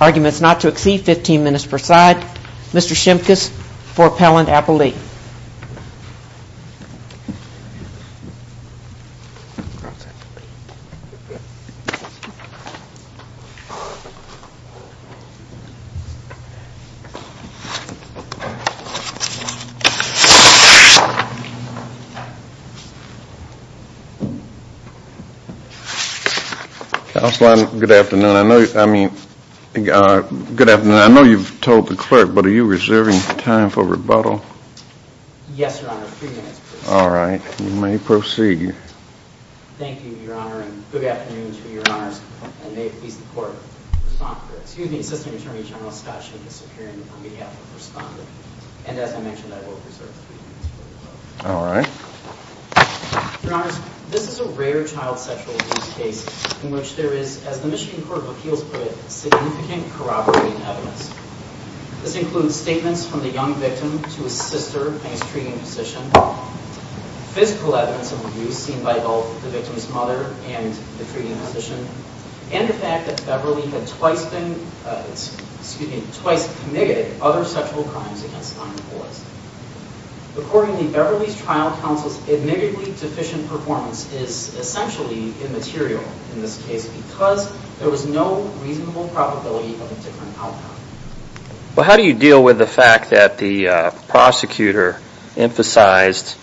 Arguments not to exceed 15 minutes per side. Mr. Shimkus for Appellant Appley. Counsel, good afternoon. I know you've told the clerk but are you reserving time for rebuttal? Yes, your honor. Three minutes please. Alright, you may proceed. Thank you, your honor, and good afternoon to you, your honors. Your honor, this is a rare child sexual abuse case in which there is, as the Michigan Court of Appeals put it, significant corroborating evidence. This includes statements from the young victim to his sister and his treating physician, physical evidence of abuse seen by both the victim's mother and the treating physician, and the fact that Beverly had twice committed other sexual crimes against non-equalists. Accordingly, Beverly's trial counsel's admittedly deficient performance is essentially immaterial in this case because there was no reasonable probability of a different outcome. But how do you deal with the fact that the prosecutor emphasized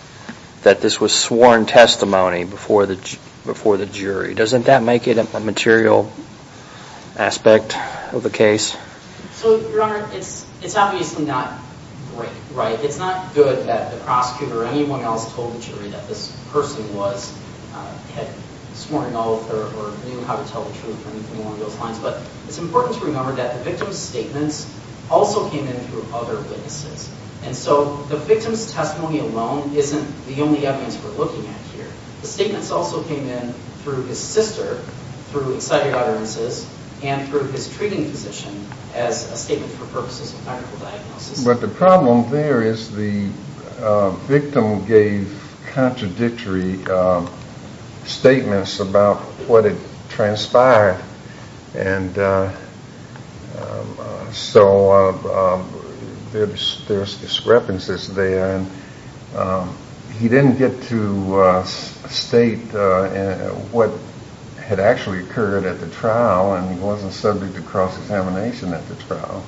that this was sworn testimony before the jury? Doesn't that make it a material aspect of the case? So, your honor, it's obviously not great, right? It's not good that the prosecutor or anyone else told the jury that this person was, had sworn an oath or knew how to tell the truth or anything along those lines. But it's important to remember that the victim's statements also came in through other witnesses. And so the victim's testimony alone isn't the only evidence we're looking at here. The statements also came in through his sister, through excited utterances, and through his treating physician as a statement for purposes of medical diagnosis. But the problem there is the victim gave contradictory statements about what had transpired, and so there's discrepancies there. He didn't get to state what had actually occurred at the trial, and he wasn't subject to cross-examination at the trial.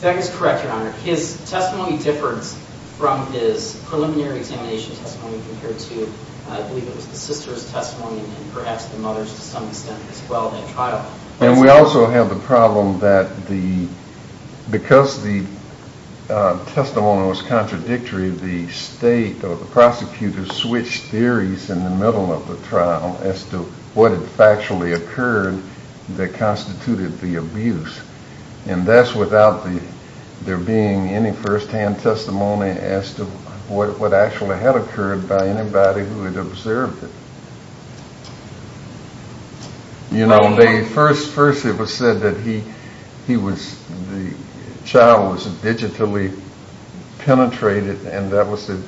That is correct, your honor. His testimony differed from his preliminary examination testimony compared to, I believe it was the sister's testimony and perhaps the mother's to some extent as well at trial. And we also have the problem that because the testimony was contradictory, the state or the prosecutor switched theories in the middle of the trial as to what had factually occurred that constituted the abuse. And that's without there being any first-hand testimony as to what actually had occurred by anybody who had observed it. You know, first it was said that the child was digitally penetrated and that was the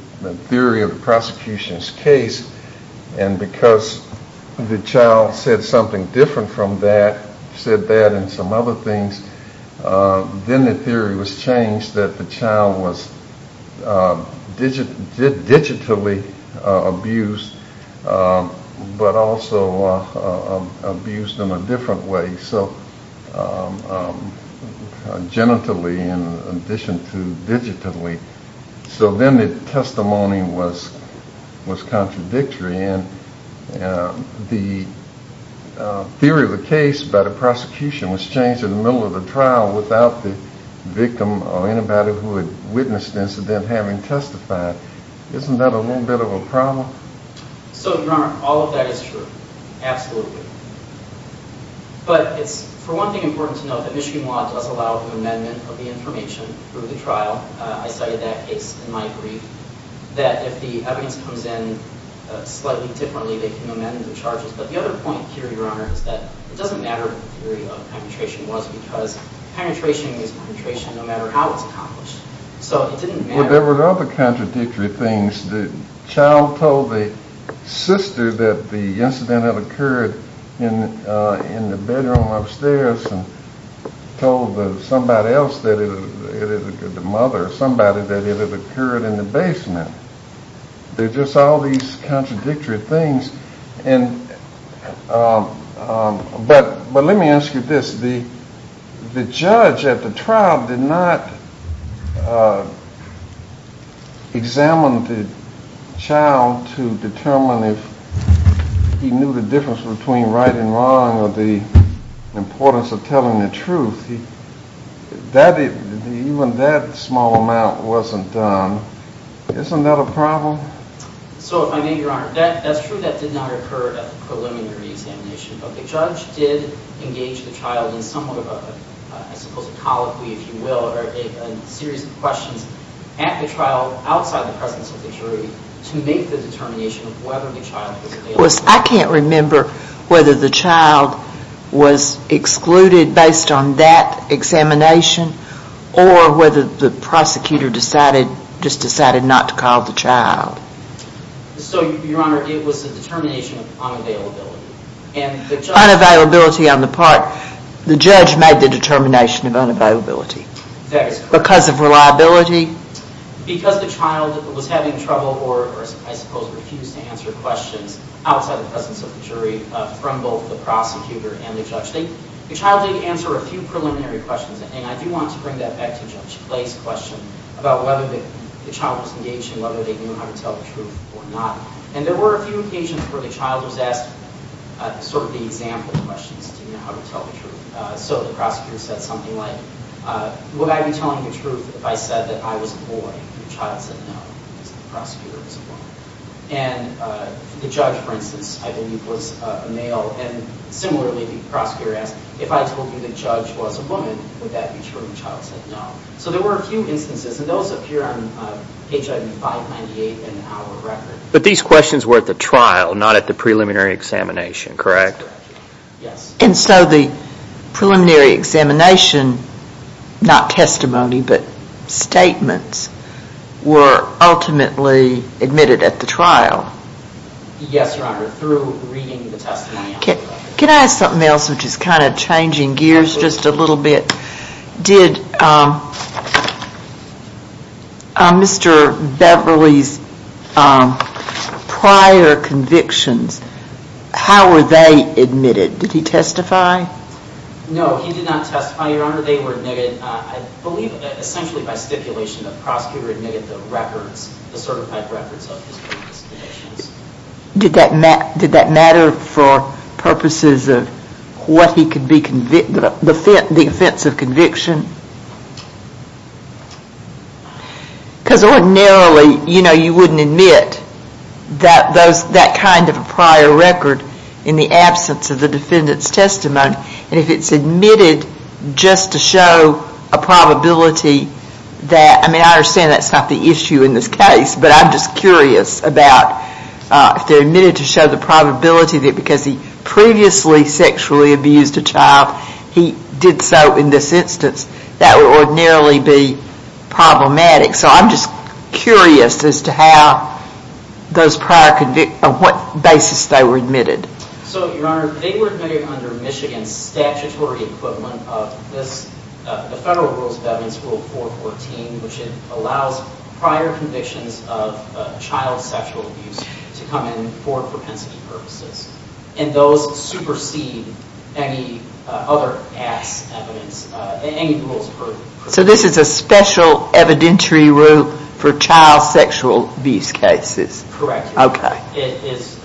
theory of the prosecution's case, and because the child said something different from that, said that and some other things, then the theory was changed that the child was digitally abused, but also abused in a different way, so genitally in addition to digitally. So then the testimony was contradictory, and the theory of the case by the prosecution was changed in the middle of the trial without the victim or anybody who had witnessed the incident having testified. Isn't that a little bit of a problem? So, your honor, all of that is true. Absolutely. But it's, for one thing, important to note that Michigan law does allow the amendment of the information through the trial. I cited that case in my brief, that if the evidence comes in slightly differently, they can amend the charges. But the other point here, your honor, is that it doesn't matter what the theory of penetration was because penetration is penetration no matter how it's accomplished. Well, there were other contradictory things. The child told the sister that the incident had occurred in the bedroom upstairs and told somebody else, the mother or somebody, that it had occurred in the basement. There's just all these contradictory things, but let me ask you this. The judge at the trial did not examine the child to determine if he knew the difference between right and wrong or the importance of telling the truth. Even that small amount wasn't done. Isn't that a problem? So, if I may, your honor, that's true that did not occur at the preliminary examination, but the judge did engage the child in somewhat of a, I suppose, a colloquy, if you will, or a series of questions at the trial outside the presence of the jury to make the determination of whether the child was available. I can't remember whether the child was excluded based on that examination or whether the prosecutor just decided not to call the child. So, your honor, it was a determination of unavailability. Unavailability on the part. The judge made the determination of unavailability. That is correct. Because of reliability. Because the child was having trouble or, I suppose, refused to answer questions outside the presence of the jury from both the prosecutor and the judge. The child did answer a few preliminary questions, and I do want to bring that back to Judge Clay's question about whether the child was engaged in whether they knew how to tell the truth or not. And there were a few occasions where the child was asked sort of the example questions to know how to tell the truth. So the prosecutor said something like, would I be telling the truth if I said that I was a boy? The child said no, because the prosecutor was a woman. And the judge, for instance, I believe was a male. And similarly, the prosecutor asked, if I told you the judge was a woman, would that be true? The child said no. So there were a few instances, and those appear on page 598 in our record. But these questions were at the trial, not at the preliminary examination, correct? Yes. And so the preliminary examination, not testimony, but statements, were ultimately admitted at the trial? Yes, Your Honor, through reading the testimony. Can I ask something else, which is kind of changing gears just a little bit? Did Mr. Beverly's prior convictions, how were they admitted? Did he testify? No, he did not testify, Your Honor. They were admitted, I believe, essentially by stipulation. The prosecutor admitted the records, the certified records of his previous convictions. Did that matter for purposes of the offense of conviction? Because ordinarily, you know, you wouldn't admit that kind of a prior record in the absence of the defendant's testimony. And if it's admitted just to show a probability that, I mean, I understand that's not the issue in this case, but I'm just curious about if they're admitted to show the probability that because he previously sexually abused a child, he did so in this instance, that would ordinarily be problematic. So I'm just curious as to how those prior convictions, on what basis they were admitted. So, Your Honor, they were admitted under Michigan's statutory equivalent of this, the federal rules of evidence, Rule 414, which allows prior convictions of child sexual abuse to come in for propensity purposes. And those supersede any other ass evidence, any rules of evidence. So this is a special evidentiary rule for child sexual abuse cases? Correct. Okay. It is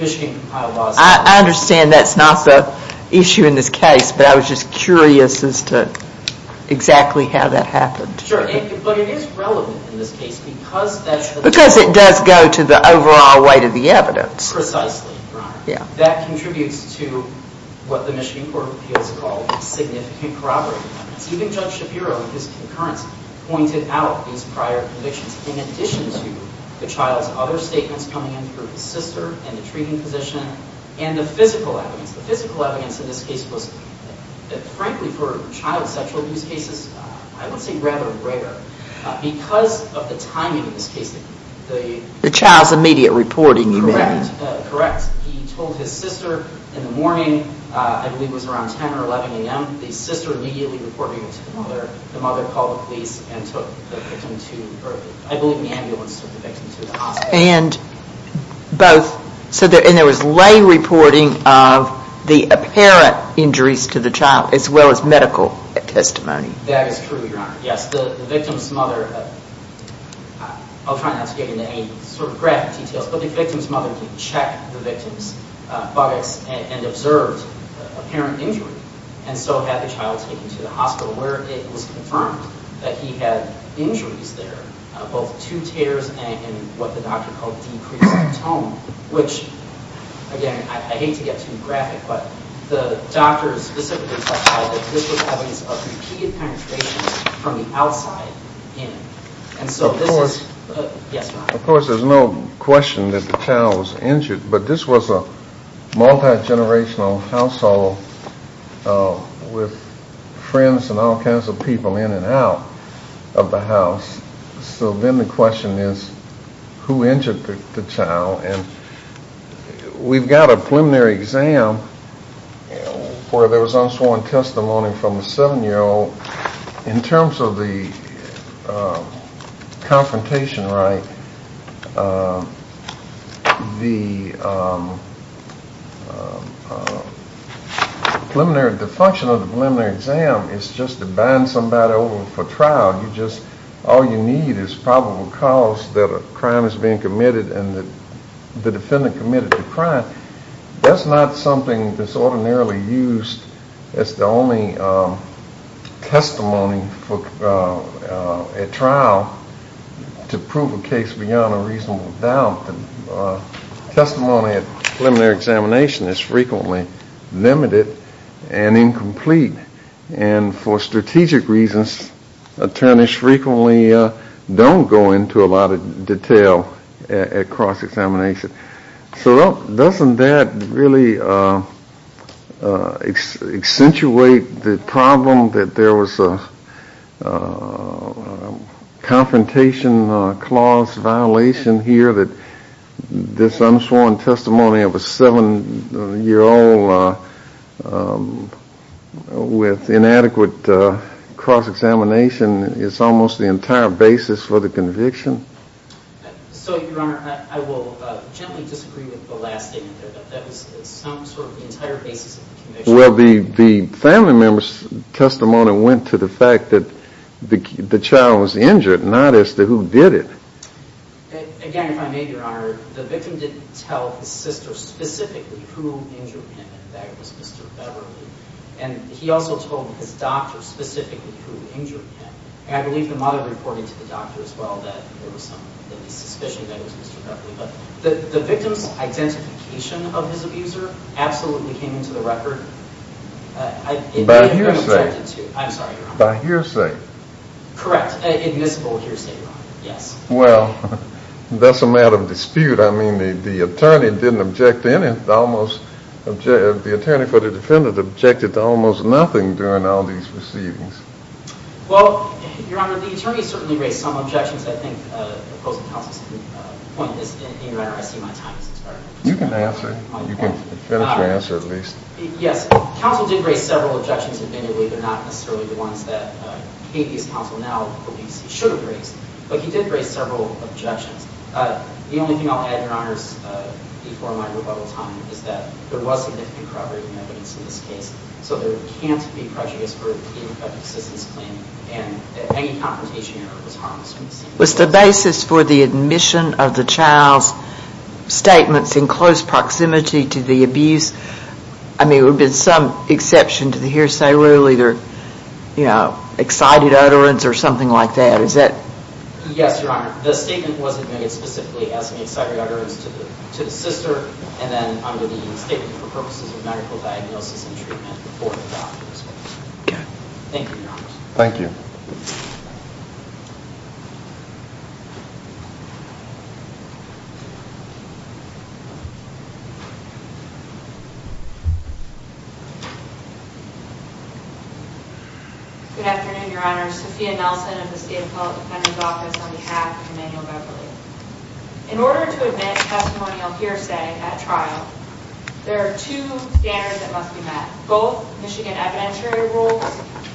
Michigan compiled laws. I understand that's not the issue in this case, but I was just curious as to exactly how that happened. Sure. But it is relevant in this case because that's... Because it does go to the overall weight of the evidence. Precisely, Your Honor. Yeah. That contributes to what the Michigan Court of Appeals called significant corroborative evidence. Even Judge Shapiro, in his concurrence, pointed out these prior convictions. In addition to the child's other statements coming in through his sister and the treating physician and the physical evidence. The physical evidence in this case was, frankly, for child sexual abuse cases, I would say rather rare. Because of the timing in this case, the... The child's immediate reporting, you mean. Correct. He told his sister in the morning, I believe it was around 10 or 11 a.m., the sister immediately reporting it to the mother. The mother called the police and took the victim to... I believe the ambulance took the victim to the hospital. And both... And there was lay reporting of the apparent injuries to the child as well as medical testimony. That is true, Your Honor. Yes. The victim's mother... I'll try not to get into any sort of graphic details, but the victim's mother did check the victim's buttocks and observed apparent injury. And so had the child taken to the hospital where it was confirmed that he had injuries there. Both two tears and what the doctor called decreased tone. Which, again, I hate to get too graphic, but the doctor specifically testified that this was evidence of repeated penetration from the outside in. And so this is... Of course... Yes, Your Honor. With friends and all kinds of people in and out of the house. So then the question is, who injured the child? And we've got a preliminary exam where there was unsworn testimony from a seven-year-old. In terms of the confrontation right, the preliminary... The function of the preliminary exam is just to bind somebody over for trial. You just... All you need is probable cause that a crime is being committed and the defendant committed the crime. That's not something that's ordinarily used as the only testimony at trial to prove a case beyond a reasonable doubt. Testimony at preliminary examination is frequently limited and incomplete. And for strategic reasons, attorneys frequently don't go into a lot of detail at cross-examination. So doesn't that really accentuate the problem that there was a confrontation clause violation here, that this unsworn testimony of a seven-year-old with inadequate cross-examination is almost the entire basis for the conviction? So, Your Honor, I will gently disagree with the last statement, but that was some sort of the entire basis of the conviction. Well, the family member's testimony went to the fact that the child was injured, not as to who did it. Again, if I may, Your Honor, the victim didn't tell his sister specifically who injured him. In fact, it was Mr. Beverly. And he also told his doctor specifically who injured him. And I believe the mother reported to the doctor as well that there was some suspicion that it was Mr. Beverly. But the victim's identification of his abuser absolutely came into the record. By hearsay. I'm sorry, Your Honor. By hearsay. Correct, admissible hearsay, Your Honor. Yes. Well, that's a matter of dispute. I mean, the attorney for the defendant objected to almost nothing during all these proceedings. Well, Your Honor, the attorney certainly raised some objections. I think the opposing counsel's point is, Your Honor, I see my time has expired. You can answer. You can finish your answer, at least. Yes. Counsel did raise several objections, admittedly, but not necessarily the ones that Kate East Counsel now believes he should have raised. But he did raise several objections. The only thing I'll add, Your Honor, before my rebuttal time is that there was significant corroborating evidence in this case. So there can't be prejudice in a persistence claim, and any confrontation error was harmless. Was the basis for the admission of the child's statements in close proximity to the abuse, I mean, there would have been some exception to the hearsay rule, either, you know, excited utterance or something like that. Is that? Yes, Your Honor. The statement was admitted specifically as an excited utterance to the sister, and then under the statement for purposes of medical diagnosis and treatment for the doctor. Okay. Thank you, Your Honor. Thank you. Good afternoon, Your Honor. Sophia Nelson of the State Appellate Defender's Office on behalf of Emmanuel Beverly. In order to admit testimonial hearsay at trial, there are two standards that must be met, both Michigan evidentiary rules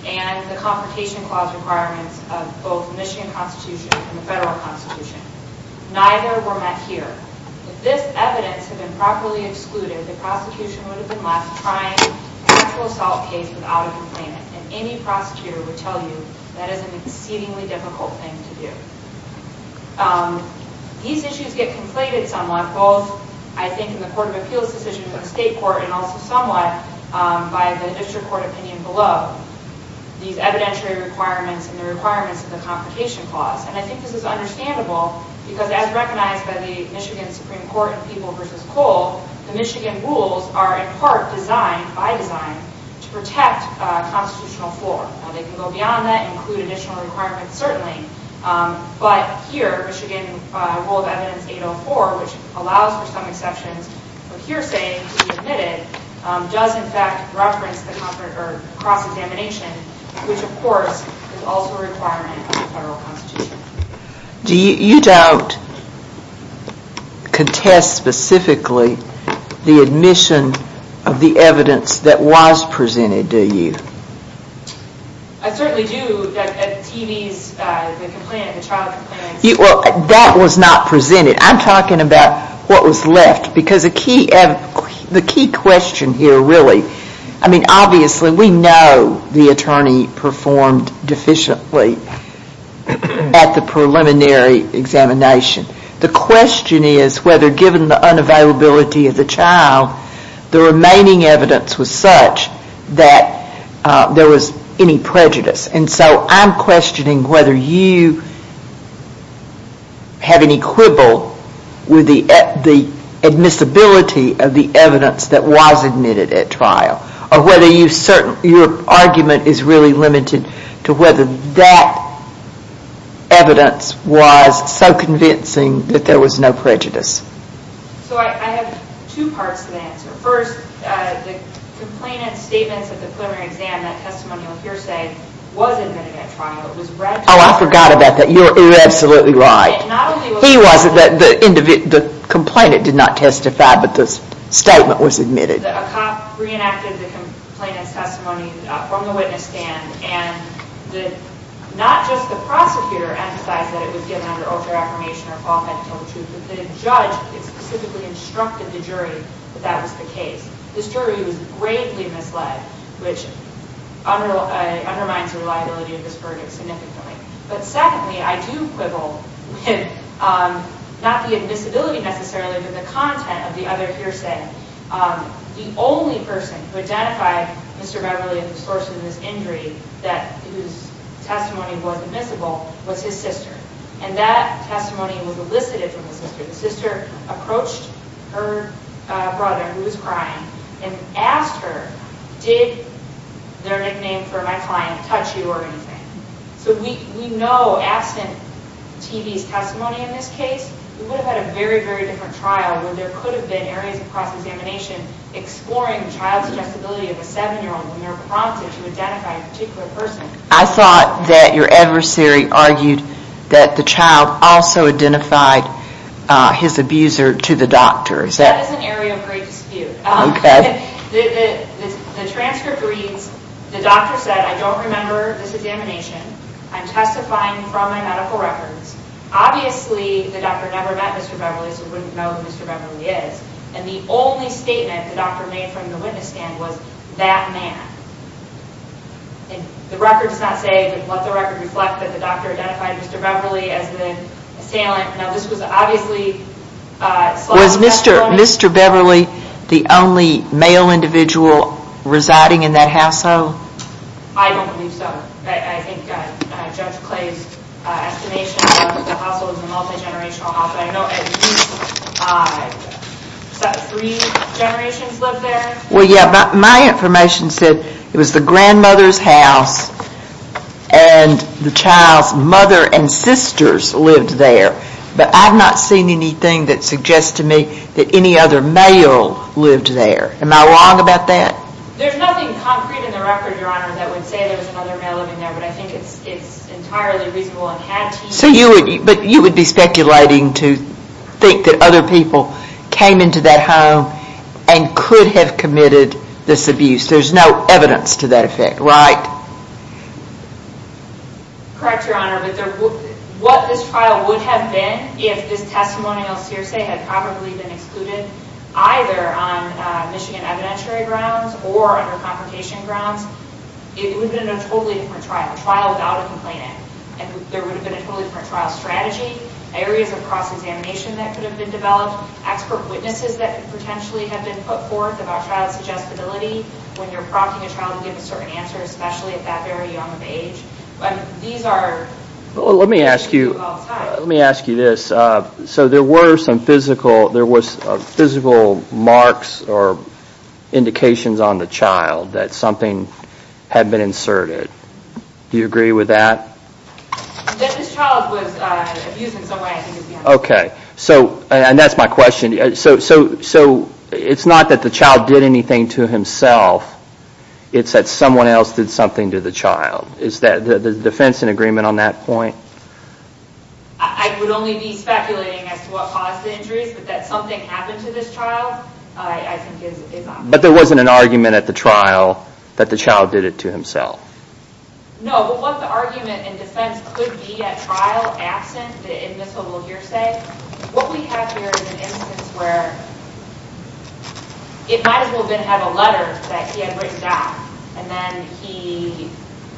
and the Confrontation Clause requirements of both the Michigan Constitution and the Federal Constitution. Neither were met here. If this evidence had been properly excluded, the prosecution would have been left trying an actual assault case without a complaint, and any prosecutor would tell you that is an exceedingly difficult thing to do. These issues get conflated somewhat, both, I think, in the Court of Appeals decision of the State Court and also somewhat by the District Court opinion below. These evidentiary requirements and the requirements of the Confrontation Clause, and I think this is understandable because as recognized by the Michigan Supreme Court in People v. Cole, the Michigan rules are in part designed, by design, to protect constitutional floor. Now, they can go beyond that and include additional requirements, certainly, but here, Michigan Rule of Evidence 804, which allows for some exceptions of hearsay to be admitted, does in fact reference the cross-examination, which, of course, is also a requirement of the Federal Constitution. You don't contest specifically the admission of the evidence that was presented, do you? I certainly do. At the TV's, the complaint, the child complaint. Well, that was not presented. I'm talking about what was left because the key question here, really, I mean, obviously, we know the attorney performed deficiently at the preliminary examination. The question is whether, given the unavailability of the child, the remaining evidence was such that there was any prejudice. And so, I'm questioning whether you have any quibble with the admissibility of the evidence that was admitted at trial or whether your argument is really limited to whether that evidence was so convincing that there was no prejudice. So, I have two parts to that. First, the complainant's statements at the preliminary exam, that testimonial hearsay, was admitted at trial. Oh, I forgot about that. You're absolutely right. He wasn't. The complainant did not testify, but the statement was admitted. A cop reenacted the complainant's testimony from the witness stand, and not just the prosecutor emphasized that it was given under oath or affirmation but the judge specifically instructed the jury that that was the case. This jury was gravely misled, which undermines the reliability of this verdict significantly. But secondly, I do quibble with not the admissibility necessarily, but the content of the other hearsay. The only person who identified Mr. Beverley as the source of this injury, whose testimony was admissible, was his sister. And that testimony was elicited from the sister. The sister approached her brother, who was crying, and asked her, did their nickname for my client touch you or anything? So we know absent TV's testimony in this case, we would have had a very, very different trial where there could have been areas of cross-examination exploring the child's accessibility of a seven-year-old when they're prompted to identify a particular person. I thought that your adversary argued that the child also identified his abuser to the doctor. That is an area of great dispute. The transcript reads, the doctor said, I don't remember this examination. I'm testifying from my medical records. Obviously, the doctor never met Mr. Beverley, so wouldn't know who Mr. Beverley is. And the only statement the doctor made from the witness stand was, that man. And the record does not say, let the record reflect that the doctor identified Mr. Beverley as the assailant. Now, this was obviously, Was Mr. Beverley the only male individual residing in that household? I don't believe so. I think Judge Clay's estimation of the household is a multi-generational household. I know at least three generations lived there. Well, yeah, but my information said it was the grandmother's house and the child's mother and sisters lived there. But I've not seen anything that suggests to me that any other male lived there. Am I wrong about that? There's nothing concrete in the record, Your Honor, that would say there was another male living there. But I think it's entirely reasonable and had to be. But you would be speculating to think that other people came into that home and could have committed this abuse. There's no evidence to that effect, right? Correct, Your Honor, but what this trial would have been, if this testimonial seer say had probably been excluded, either on Michigan evidentiary grounds or under confrontation grounds, it would have been a totally different trial. A trial without a complainant. And there would have been a totally different trial strategy. Areas of cross-examination that could have been developed. Expert witnesses that could potentially have been put forth about child's adjustability when you're prompting a child to give a certain answer, especially at that very young of age. These are... Let me ask you this. So there were some physical marks or indications on the child that something had been inserted. Do you agree with that? That this child was abused in some way, I think is the answer. Okay. And that's my question. So it's not that the child did anything to himself. It's that someone else did something to the child. Is the defense in agreement on that point? I would only be speculating as to what caused the injuries, but that something happened to this child, I think is obvious. But there wasn't an argument at the trial that the child did it to himself. No, but what the argument in defense could be at trial, absent the admissible hearsay, what we have here is an instance where it might as well have been a letter that he had written back, and then he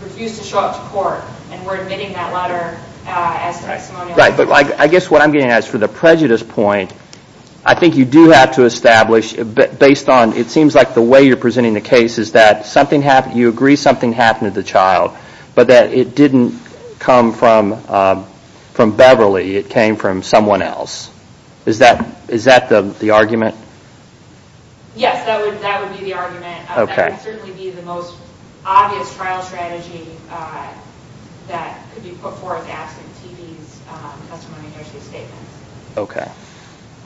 refused to show up to court, and we're admitting that letter as testimonial. Right, but I guess what I'm getting at is for the prejudice point, I think you do have to establish based on, it seems like the way you're presenting the case is that you agree something happened to the child, but that it didn't come from Beverly, it came from someone else. Is that the argument? Yes, that would be the argument. Okay. That would certainly be the most obvious trial strategy that could be put forth absent TB's testimony and hearsay statements. Okay.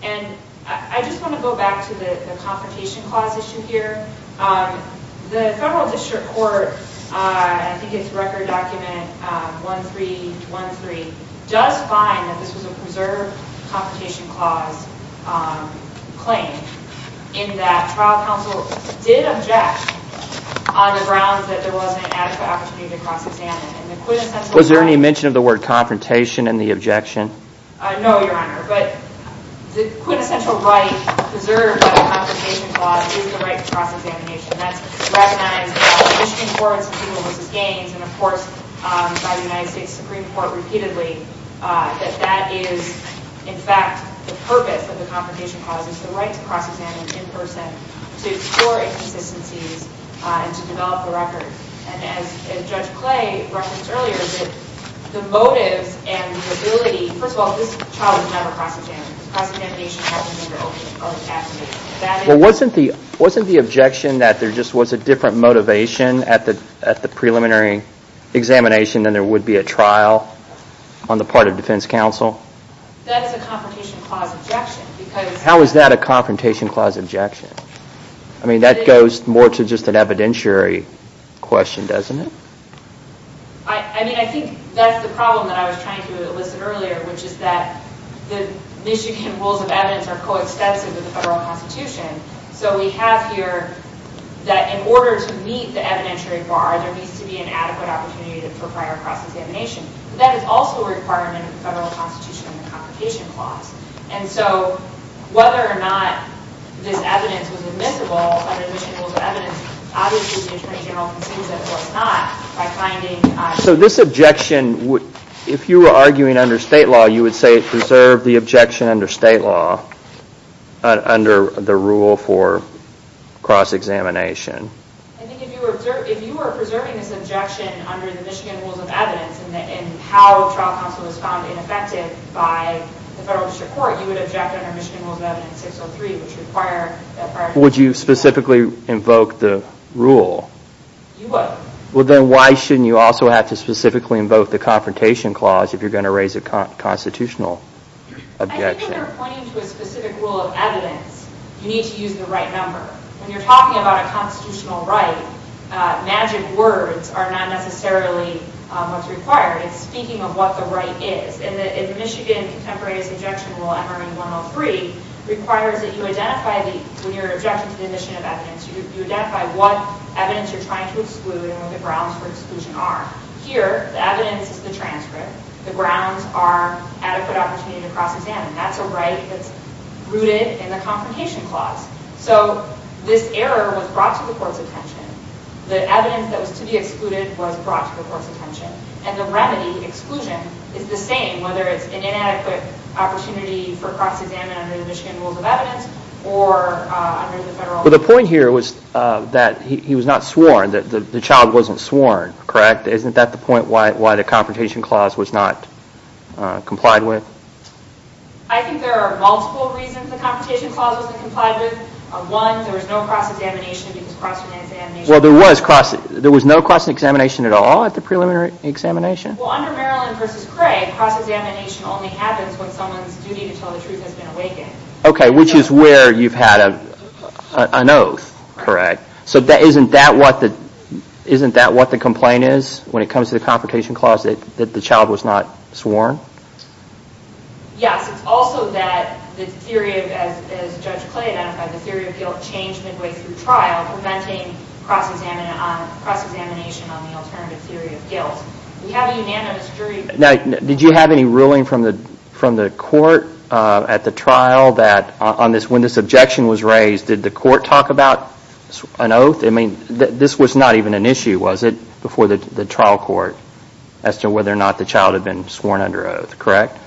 And I just want to go back to the confrontation clause issue here. The federal district court, I think it's record document 1313, does find that this was a preserved confrontation clause claim, in that trial counsel did object on the grounds that there wasn't an adequate opportunity to cross examine. Was there any mention of the word confrontation in the objection? No, Your Honor. But the quintessential right preserved by the confrontation clause is the right to cross examination. That's recognized in the Michigan Court of Institutional Vs. Gaines and, of course, by the United States Supreme Court repeatedly, that that is, in fact, the purpose of the confrontation clause, is the right to cross examine in person to explore inconsistencies and to develop the record. And as Judge Clay referenced earlier, the motives and the ability – first of all, this trial was never cross examined. The cross examination was never open or abstained. Well, wasn't the objection that there just was a different motivation at the preliminary examination than there would be at trial on the part of defense counsel? That is a confrontation clause objection because – How is that a confrontation clause objection? I mean, that goes more to just an evidentiary question, doesn't it? I mean, I think that's the problem that I was trying to elicit earlier, which is that the Michigan rules of evidence are coextensive with the federal constitution. So we have here that in order to meet the evidentiary bar, there needs to be an adequate opportunity for prior cross examination. That is also a requirement of the federal constitution in the confrontation clause. And so whether or not this evidence was admissible under Michigan rules of evidence, obviously the attorney general concedes that it was not by finding – So this objection, if you were arguing under state law, you would say it preserved the objection under state law, under the rule for cross examination. I think if you were preserving this objection under the Michigan rules of evidence and how trial counsel was found ineffective by the federal district court, you would object under Michigan rules of evidence 603, which require – Would you specifically invoke the rule? You would. Well, then why shouldn't you also have to specifically invoke the confrontation clause if you're going to raise a constitutional objection? I think if you're pointing to a specific rule of evidence, you need to use the right number. When you're talking about a constitutional right, magic words are not necessarily what's required. It's speaking of what the right is. And the Michigan Contemporary Disobjection Rule, MRN 103, requires that you identify the – When you're objecting to the admission of evidence, you identify what evidence you're trying to exclude and what the grounds for exclusion are. Here, the evidence is the transcript. The grounds are adequate opportunity to cross examine. That's a right that's rooted in the confrontation clause. So this error was brought to the court's attention. The evidence that was to be excluded was brought to the court's attention. And the remedy, exclusion, is the same, whether it's an inadequate opportunity for cross-examination under the Michigan rules of evidence or under the federal – But the point here was that he was not sworn, that the child wasn't sworn, correct? Isn't that the point why the confrontation clause was not complied with? I think there are multiple reasons the confrontation clause wasn't complied with. One, there was no cross-examination because cross-examination – Well, there was no cross-examination at all at the preliminary examination? Well, under Maryland v. Cray, cross-examination only happens when someone's duty to tell the truth has been awakened. Okay, which is where you've had an oath, correct? So isn't that what the complaint is when it comes to the confrontation clause, that the child was not sworn? Yes, it's also that the theory, as Judge Clay identified, the theory of guilt changed midway through trial, preventing cross-examination on the alternative theory of guilt. We have a unanimous jury – Now, did you have any ruling from the court at the trial that, when this objection was raised, did the court talk about an oath? I mean, this was not even an issue, was it, before the trial court, as to whether or not the child had been sworn under oath, correct?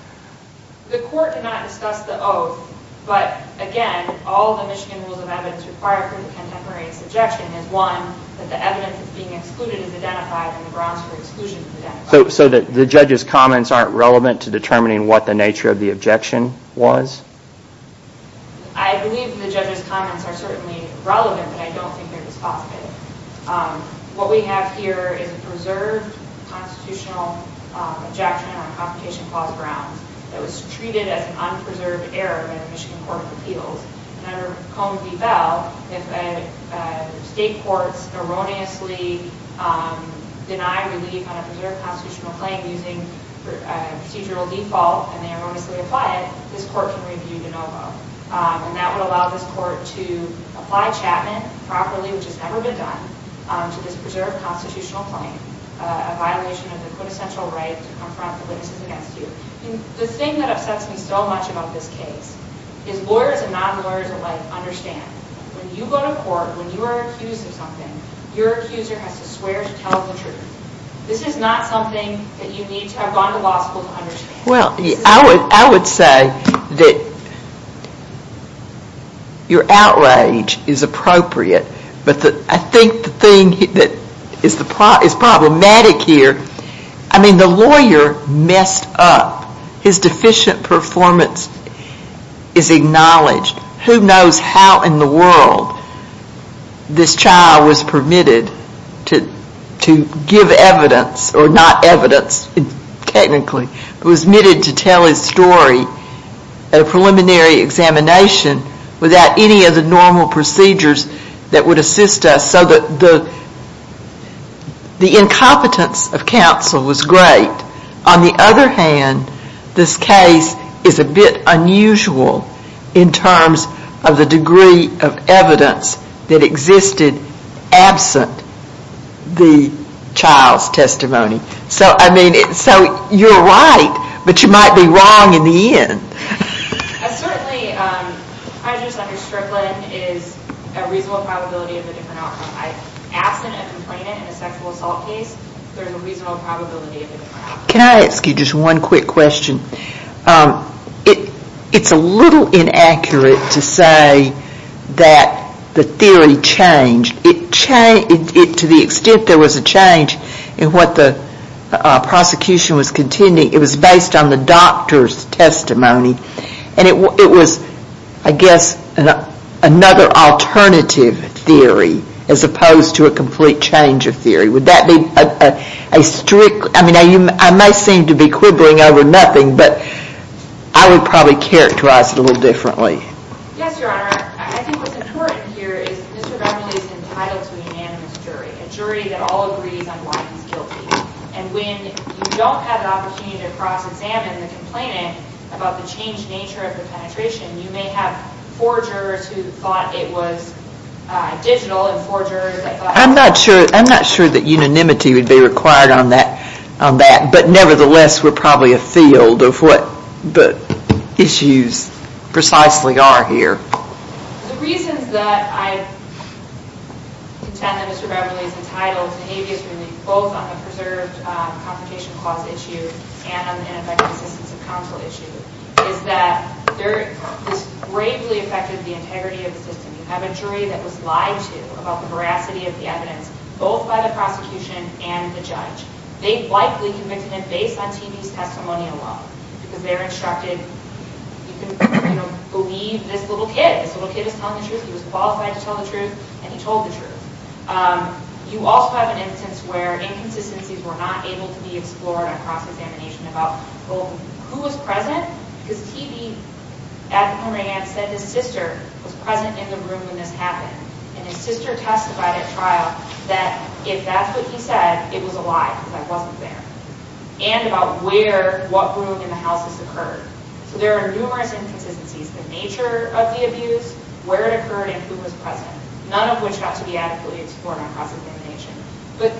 The court did not discuss the oath, but again, all the Michigan Rules of Evidence require for the contemporary subjection is, one, that the evidence that's being excluded is identified and the grounds for exclusion is identified. So the judge's comments aren't relevant to determining what the nature of the objection was? I believe the judge's comments are certainly relevant, but I don't think they're dispositive. What we have here is a preserved constitutional objection on confrontation clause grounds that was treated as an unpreserved error by the Michigan Court of Appeals. And under Cone v. Bell, if state courts erroneously deny relief on a preserved constitutional claim using procedural default and they erroneously apply it, this court can review de novo. And that would allow this court to apply Chapman properly, which has never been done, to this preserved constitutional claim, a violation of the quintessential right to confront the witnesses against you. The thing that upsets me so much about this case is lawyers and non-lawyers alike understand when you go to court, when you are accused of something, your accuser has to swear to tell the truth. This is not something that you need to have gone to law school to understand. Well, I would say that your outrage is appropriate, but I think the thing that is problematic here, I mean the lawyer messed up. His deficient performance is acknowledged. Who knows how in the world this child was permitted to give evidence, or not evidence technically, but was admitted to tell his story at a preliminary examination without any of the normal procedures that would assist us so that the incompetence of counsel was great. On the other hand, this case is a bit unusual in terms of the degree of evidence that existed absent the child's testimony. So, I mean, you are right, but you might be wrong in the end. Certainly, prejudice under Strickland is a reasonable probability of a different outcome. Absent a complainant in a sexual assault case, there is a reasonable probability of a different outcome. Can I ask you just one quick question? It's a little inaccurate to say that the theory changed. To the extent there was a change in what the prosecution was contending, it was based on the doctor's testimony, and it was, I guess, another alternative theory, as opposed to a complete change of theory. Would that be a strict, I mean, I may seem to be quibbling over nothing, but I would probably characterize it a little differently. Yes, Your Honor. I think what's important here is Mr. Beverly is entitled to a unanimous jury, a jury that all agrees on why he's guilty. And when you don't have the opportunity to cross-examine the complainant about the changed nature of the penetration, you may have forgers who thought it was digital, and forgers that thought it was… I'm not sure that unanimity would be required on that, but nevertheless, we're probably afield of what the issues precisely are here. The reasons that I contend that Mr. Beverly is entitled to habeas relief, both on the preserved confrontation clause issue and on the ineffective assistance of counsel issue, is that this gravely affected the integrity of the system. You have a jury that was lied to about the veracity of the evidence, both by the prosecution and the judge. They likely convicted him based on TB's testimonial law, because they're instructed, you can believe this little kid. This little kid is telling the truth. He was qualified to tell the truth, and he told the truth. You also have an instance where inconsistencies were not able to be explored on cross-examination about, well, who was present? Because TB, at the moment, said his sister was present in the room when this happened. And his sister testified at trial that if that's what he said, it was a lie, because I wasn't there. And about where, what room in the house this occurred. So there are numerous inconsistencies. The nature of the abuse, where it occurred, and who was present. None of which got to be adequately explored on cross-examination. But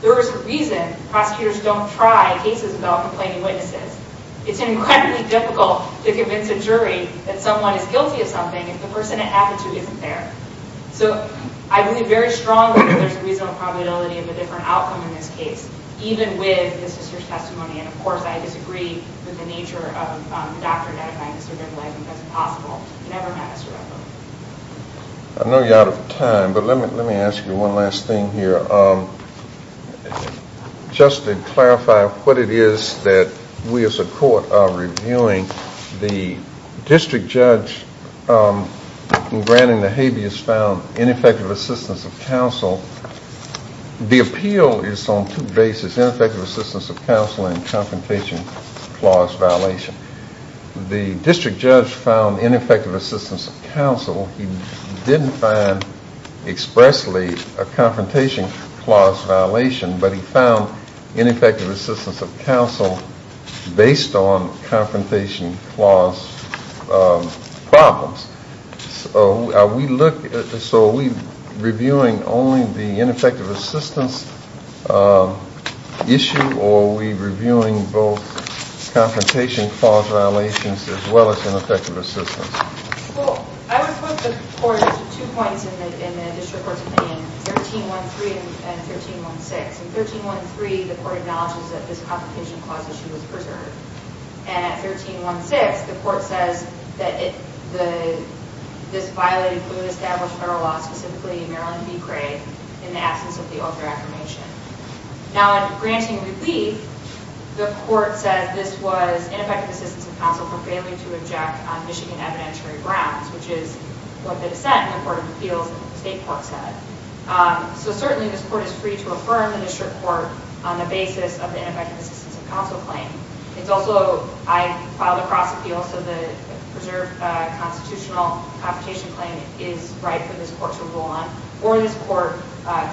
there is a reason prosecutors don't try cases without complaining witnesses. It's incredibly difficult to convince a jury that someone is guilty of something if the person it happened to isn't there. So I believe very strongly that there's a reasonable probability of a different outcome in this case, even with the sister's testimony. And, of course, I disagree with the nature of the doctor identifying the survivor. I think that's impossible. He never met a survivor. I know you're out of time, but let me ask you one last thing here. Just to clarify what it is that we as a court are reviewing, the appeal is on two bases, ineffective assistance of counsel and confrontation clause violation. The district judge found ineffective assistance of counsel. He didn't find expressly a confrontation clause violation, but he found ineffective assistance of counsel based on confrontation clause problems. So are we reviewing only the ineffective assistance issue, or are we reviewing both confrontation clause violations as well as ineffective assistance? Well, I would put the court at two points in the district court's planning, 1313 and 1316. In 1313, the court acknowledges that this confrontation clause issue was preserved. And at 1316, the court says that this violated the established federal law, specifically Maryland v. Craig, in the absence of the oath of affirmation. Now, in granting relief, the court says this was ineffective assistance of counsel for failing to object on Michigan evidentiary grounds, which is what the dissent in the Court of Appeals State Court said. So certainly this court is free to affirm the district court on the basis of the ineffective assistance of counsel claim. It's also, I filed a cross appeal, so the preserved constitutional confrontation claim is right for this court to rule on, or this court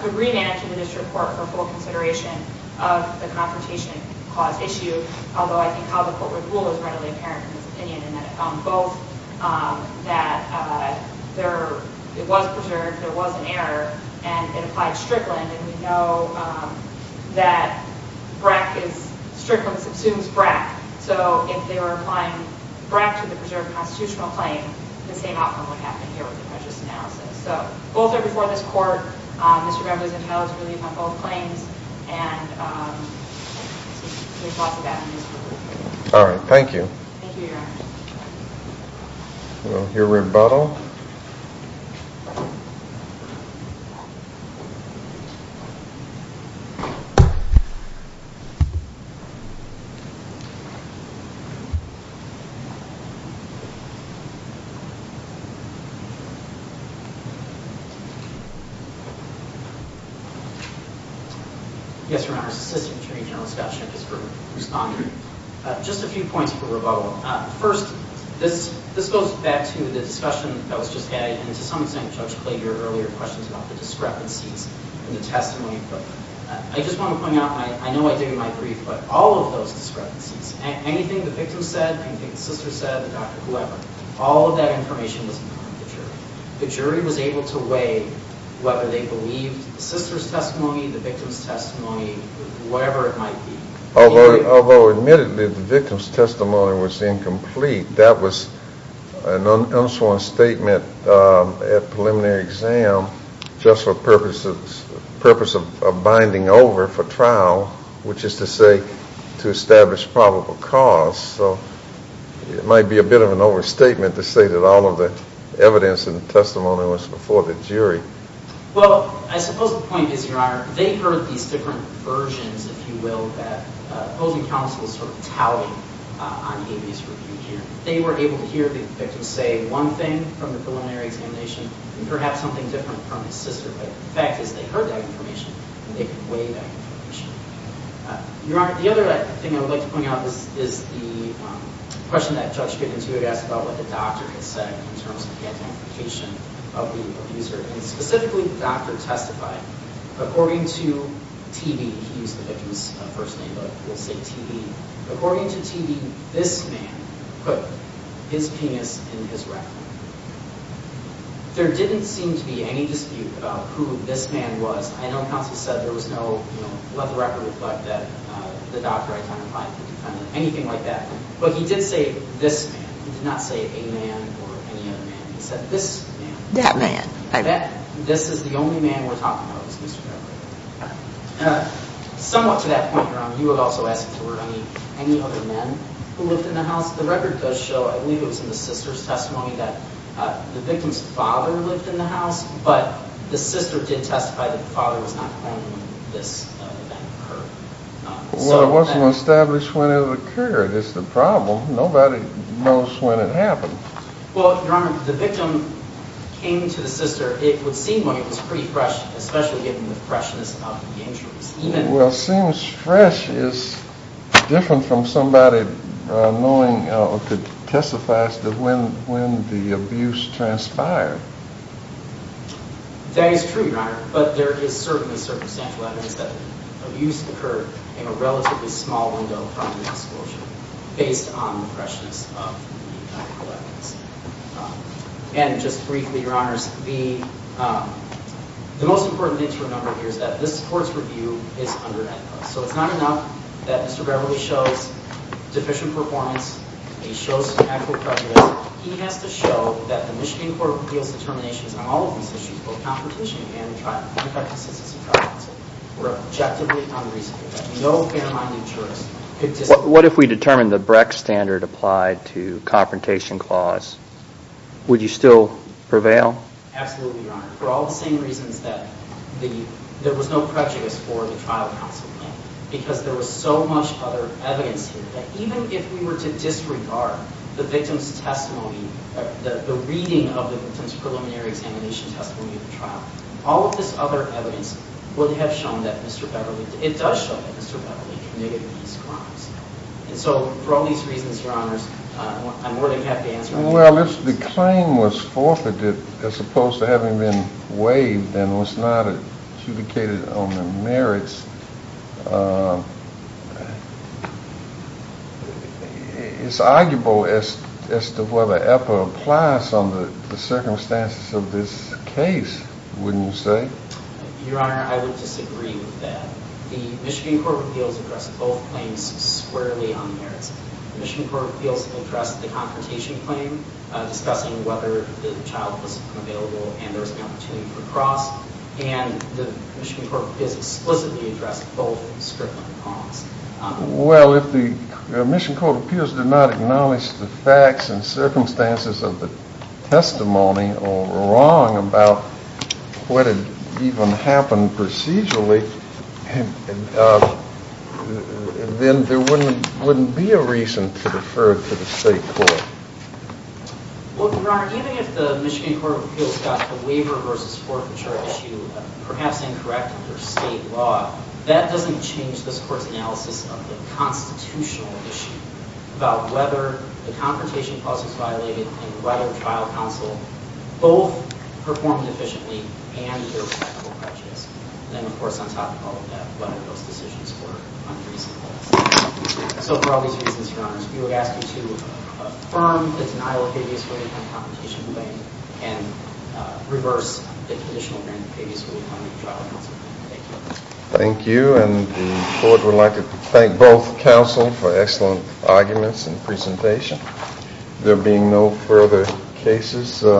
could remand it to the district court for full consideration of the confrontation clause issue, although I think how the court would rule is readily apparent in this opinion, in that it found both that it was preserved, there was an error, and it applied Strickland. And we know that Brack is Strickland subsumes Brack. So if they were applying Brack to the preserved constitutional claim, the same outcome would happen here with the prejudice analysis. So both are before this court. Mr. Ramirez and Howe's relief on both claims. And there's lots of that in this group. All right. Thank you. Thank you, Your Honor. We'll hear rebuttal. Thank you. Yes, Your Honor, this is the attorney general's discussion. Just a few points for rebuttal. First, this goes back to the discussion that was just had, and to some extent Judge Clay heard earlier questions about the discrepancies in the testimony. I just want to point out, and I know I did in my brief, but all of those discrepancies, anything the victim said, anything the sister said, the doctor, whoever, all of that information was in front of the jury. The jury was able to weigh whether they believed the sister's testimony, the victim's testimony, whatever it might be. Although admittedly the victim's testimony was incomplete. That was an unsworn statement at preliminary exam just for purpose of binding over for trial, which is to say to establish probable cause. So it might be a bit of an overstatement to say that all of the evidence in the testimony was before the jury. Well, I suppose the point is, Your Honor, they heard these different versions, if you will, that opposing counsel is sort of touting on AB's review here. They were able to hear the victim say one thing from the preliminary examination and perhaps something different from his sister, but the fact is they heard that information and they could weigh that information. Your Honor, the other thing I would like to point out is the question that Judge Skidman, too, had asked about what the doctor had said in terms of the identification of the abuser. And specifically the doctor testified, according to TB, he used the victim's first name, but we'll say TB. According to TB, this man put his penis in his record. There didn't seem to be any dispute about who this man was. I know counsel said there was no, you know, let the record reflect that the doctor identified the defendant, anything like that, but he did say this man. He did not say a man or any other man. He said this man. That man. This is the only man we're talking about. Somewhat to that point, Your Honor, you would also ask if there were any other men who lived in the house. The record does show, I believe it was in the sister's testimony, that the victim's father lived in the house, but the sister did testify that the father was not home when this event occurred. Well, it wasn't established when it occurred. It's the problem. Nobody knows when it happened. Well, Your Honor, the victim came to the sister. It would seem like it was pretty fresh, especially given the freshness of the injuries. Well, it seems fresh is different from somebody knowing or could testify to when the abuse transpired. That is true, Your Honor, but there is certainly circumstantial evidence that abuse occurred in a relatively small window based on the freshness of the collections. And just briefly, Your Honors, the most important thing to remember here is that this Court's review is under-ethical. So it's not enough that Mr. Beverly shows deficient performance. He shows some ethical prejudice. He has to show that the Michigan Court reveals determinations on all of these issues, both competition and the practices of superstition, were objectively unreasonable. No fair-minded jurist could disagree. What if we determined the Brecht standard applied to confrontation clause? Would you still prevail? Absolutely, Your Honor, for all the same reasons that there was no prejudice for the trial counsel. Because there was so much other evidence here that even if we were to disregard the victim's testimony, the reading of the victim's preliminary examination testimony of the trial, all of this other evidence would have shown that Mr. Beverly – it does show that Mr. Beverly committed these crimes. And so for all these reasons, Your Honors, I'm more than happy to answer any questions. Well, if the claim was forfeited as opposed to having been waived and was not adjudicated on the merits, it's arguable as to whether APA applies under the circumstances of this case, wouldn't you say? Your Honor, I would disagree with that. The Michigan Court reveals it addressed both claims squarely on the merits. The Michigan Court reveals it addressed the confrontation claim, discussing whether the child was available and there was an opportunity for a cross. And the Michigan Court reveals it explicitly addressed both of those. Well, if the Michigan Court of Appeals did not acknowledge the facts and circumstances of the testimony or were wrong about what had even happened procedurally, then there wouldn't be a reason to defer to the state court. Well, Your Honor, even if the Michigan Court of Appeals got the waiver versus forfeiture issue perhaps incorrect under state law, that doesn't change this Court's analysis of the constitutional issue about whether the confrontation clause was violated and whether trial counsel both performed efficiently and there was equitable prejudice. And then, of course, on top of all of that, whether those decisions were unreasonable. So for all these reasons, Your Honor, we would ask you to affirm the denial of previous ruling on the confrontation claim and reverse the conditional grant of previous ruling on the trial counsel claim. Thank you. Thank you, and the Court would like to thank both counsel for excellent arguments and presentation. There being no further cases for this afternoon.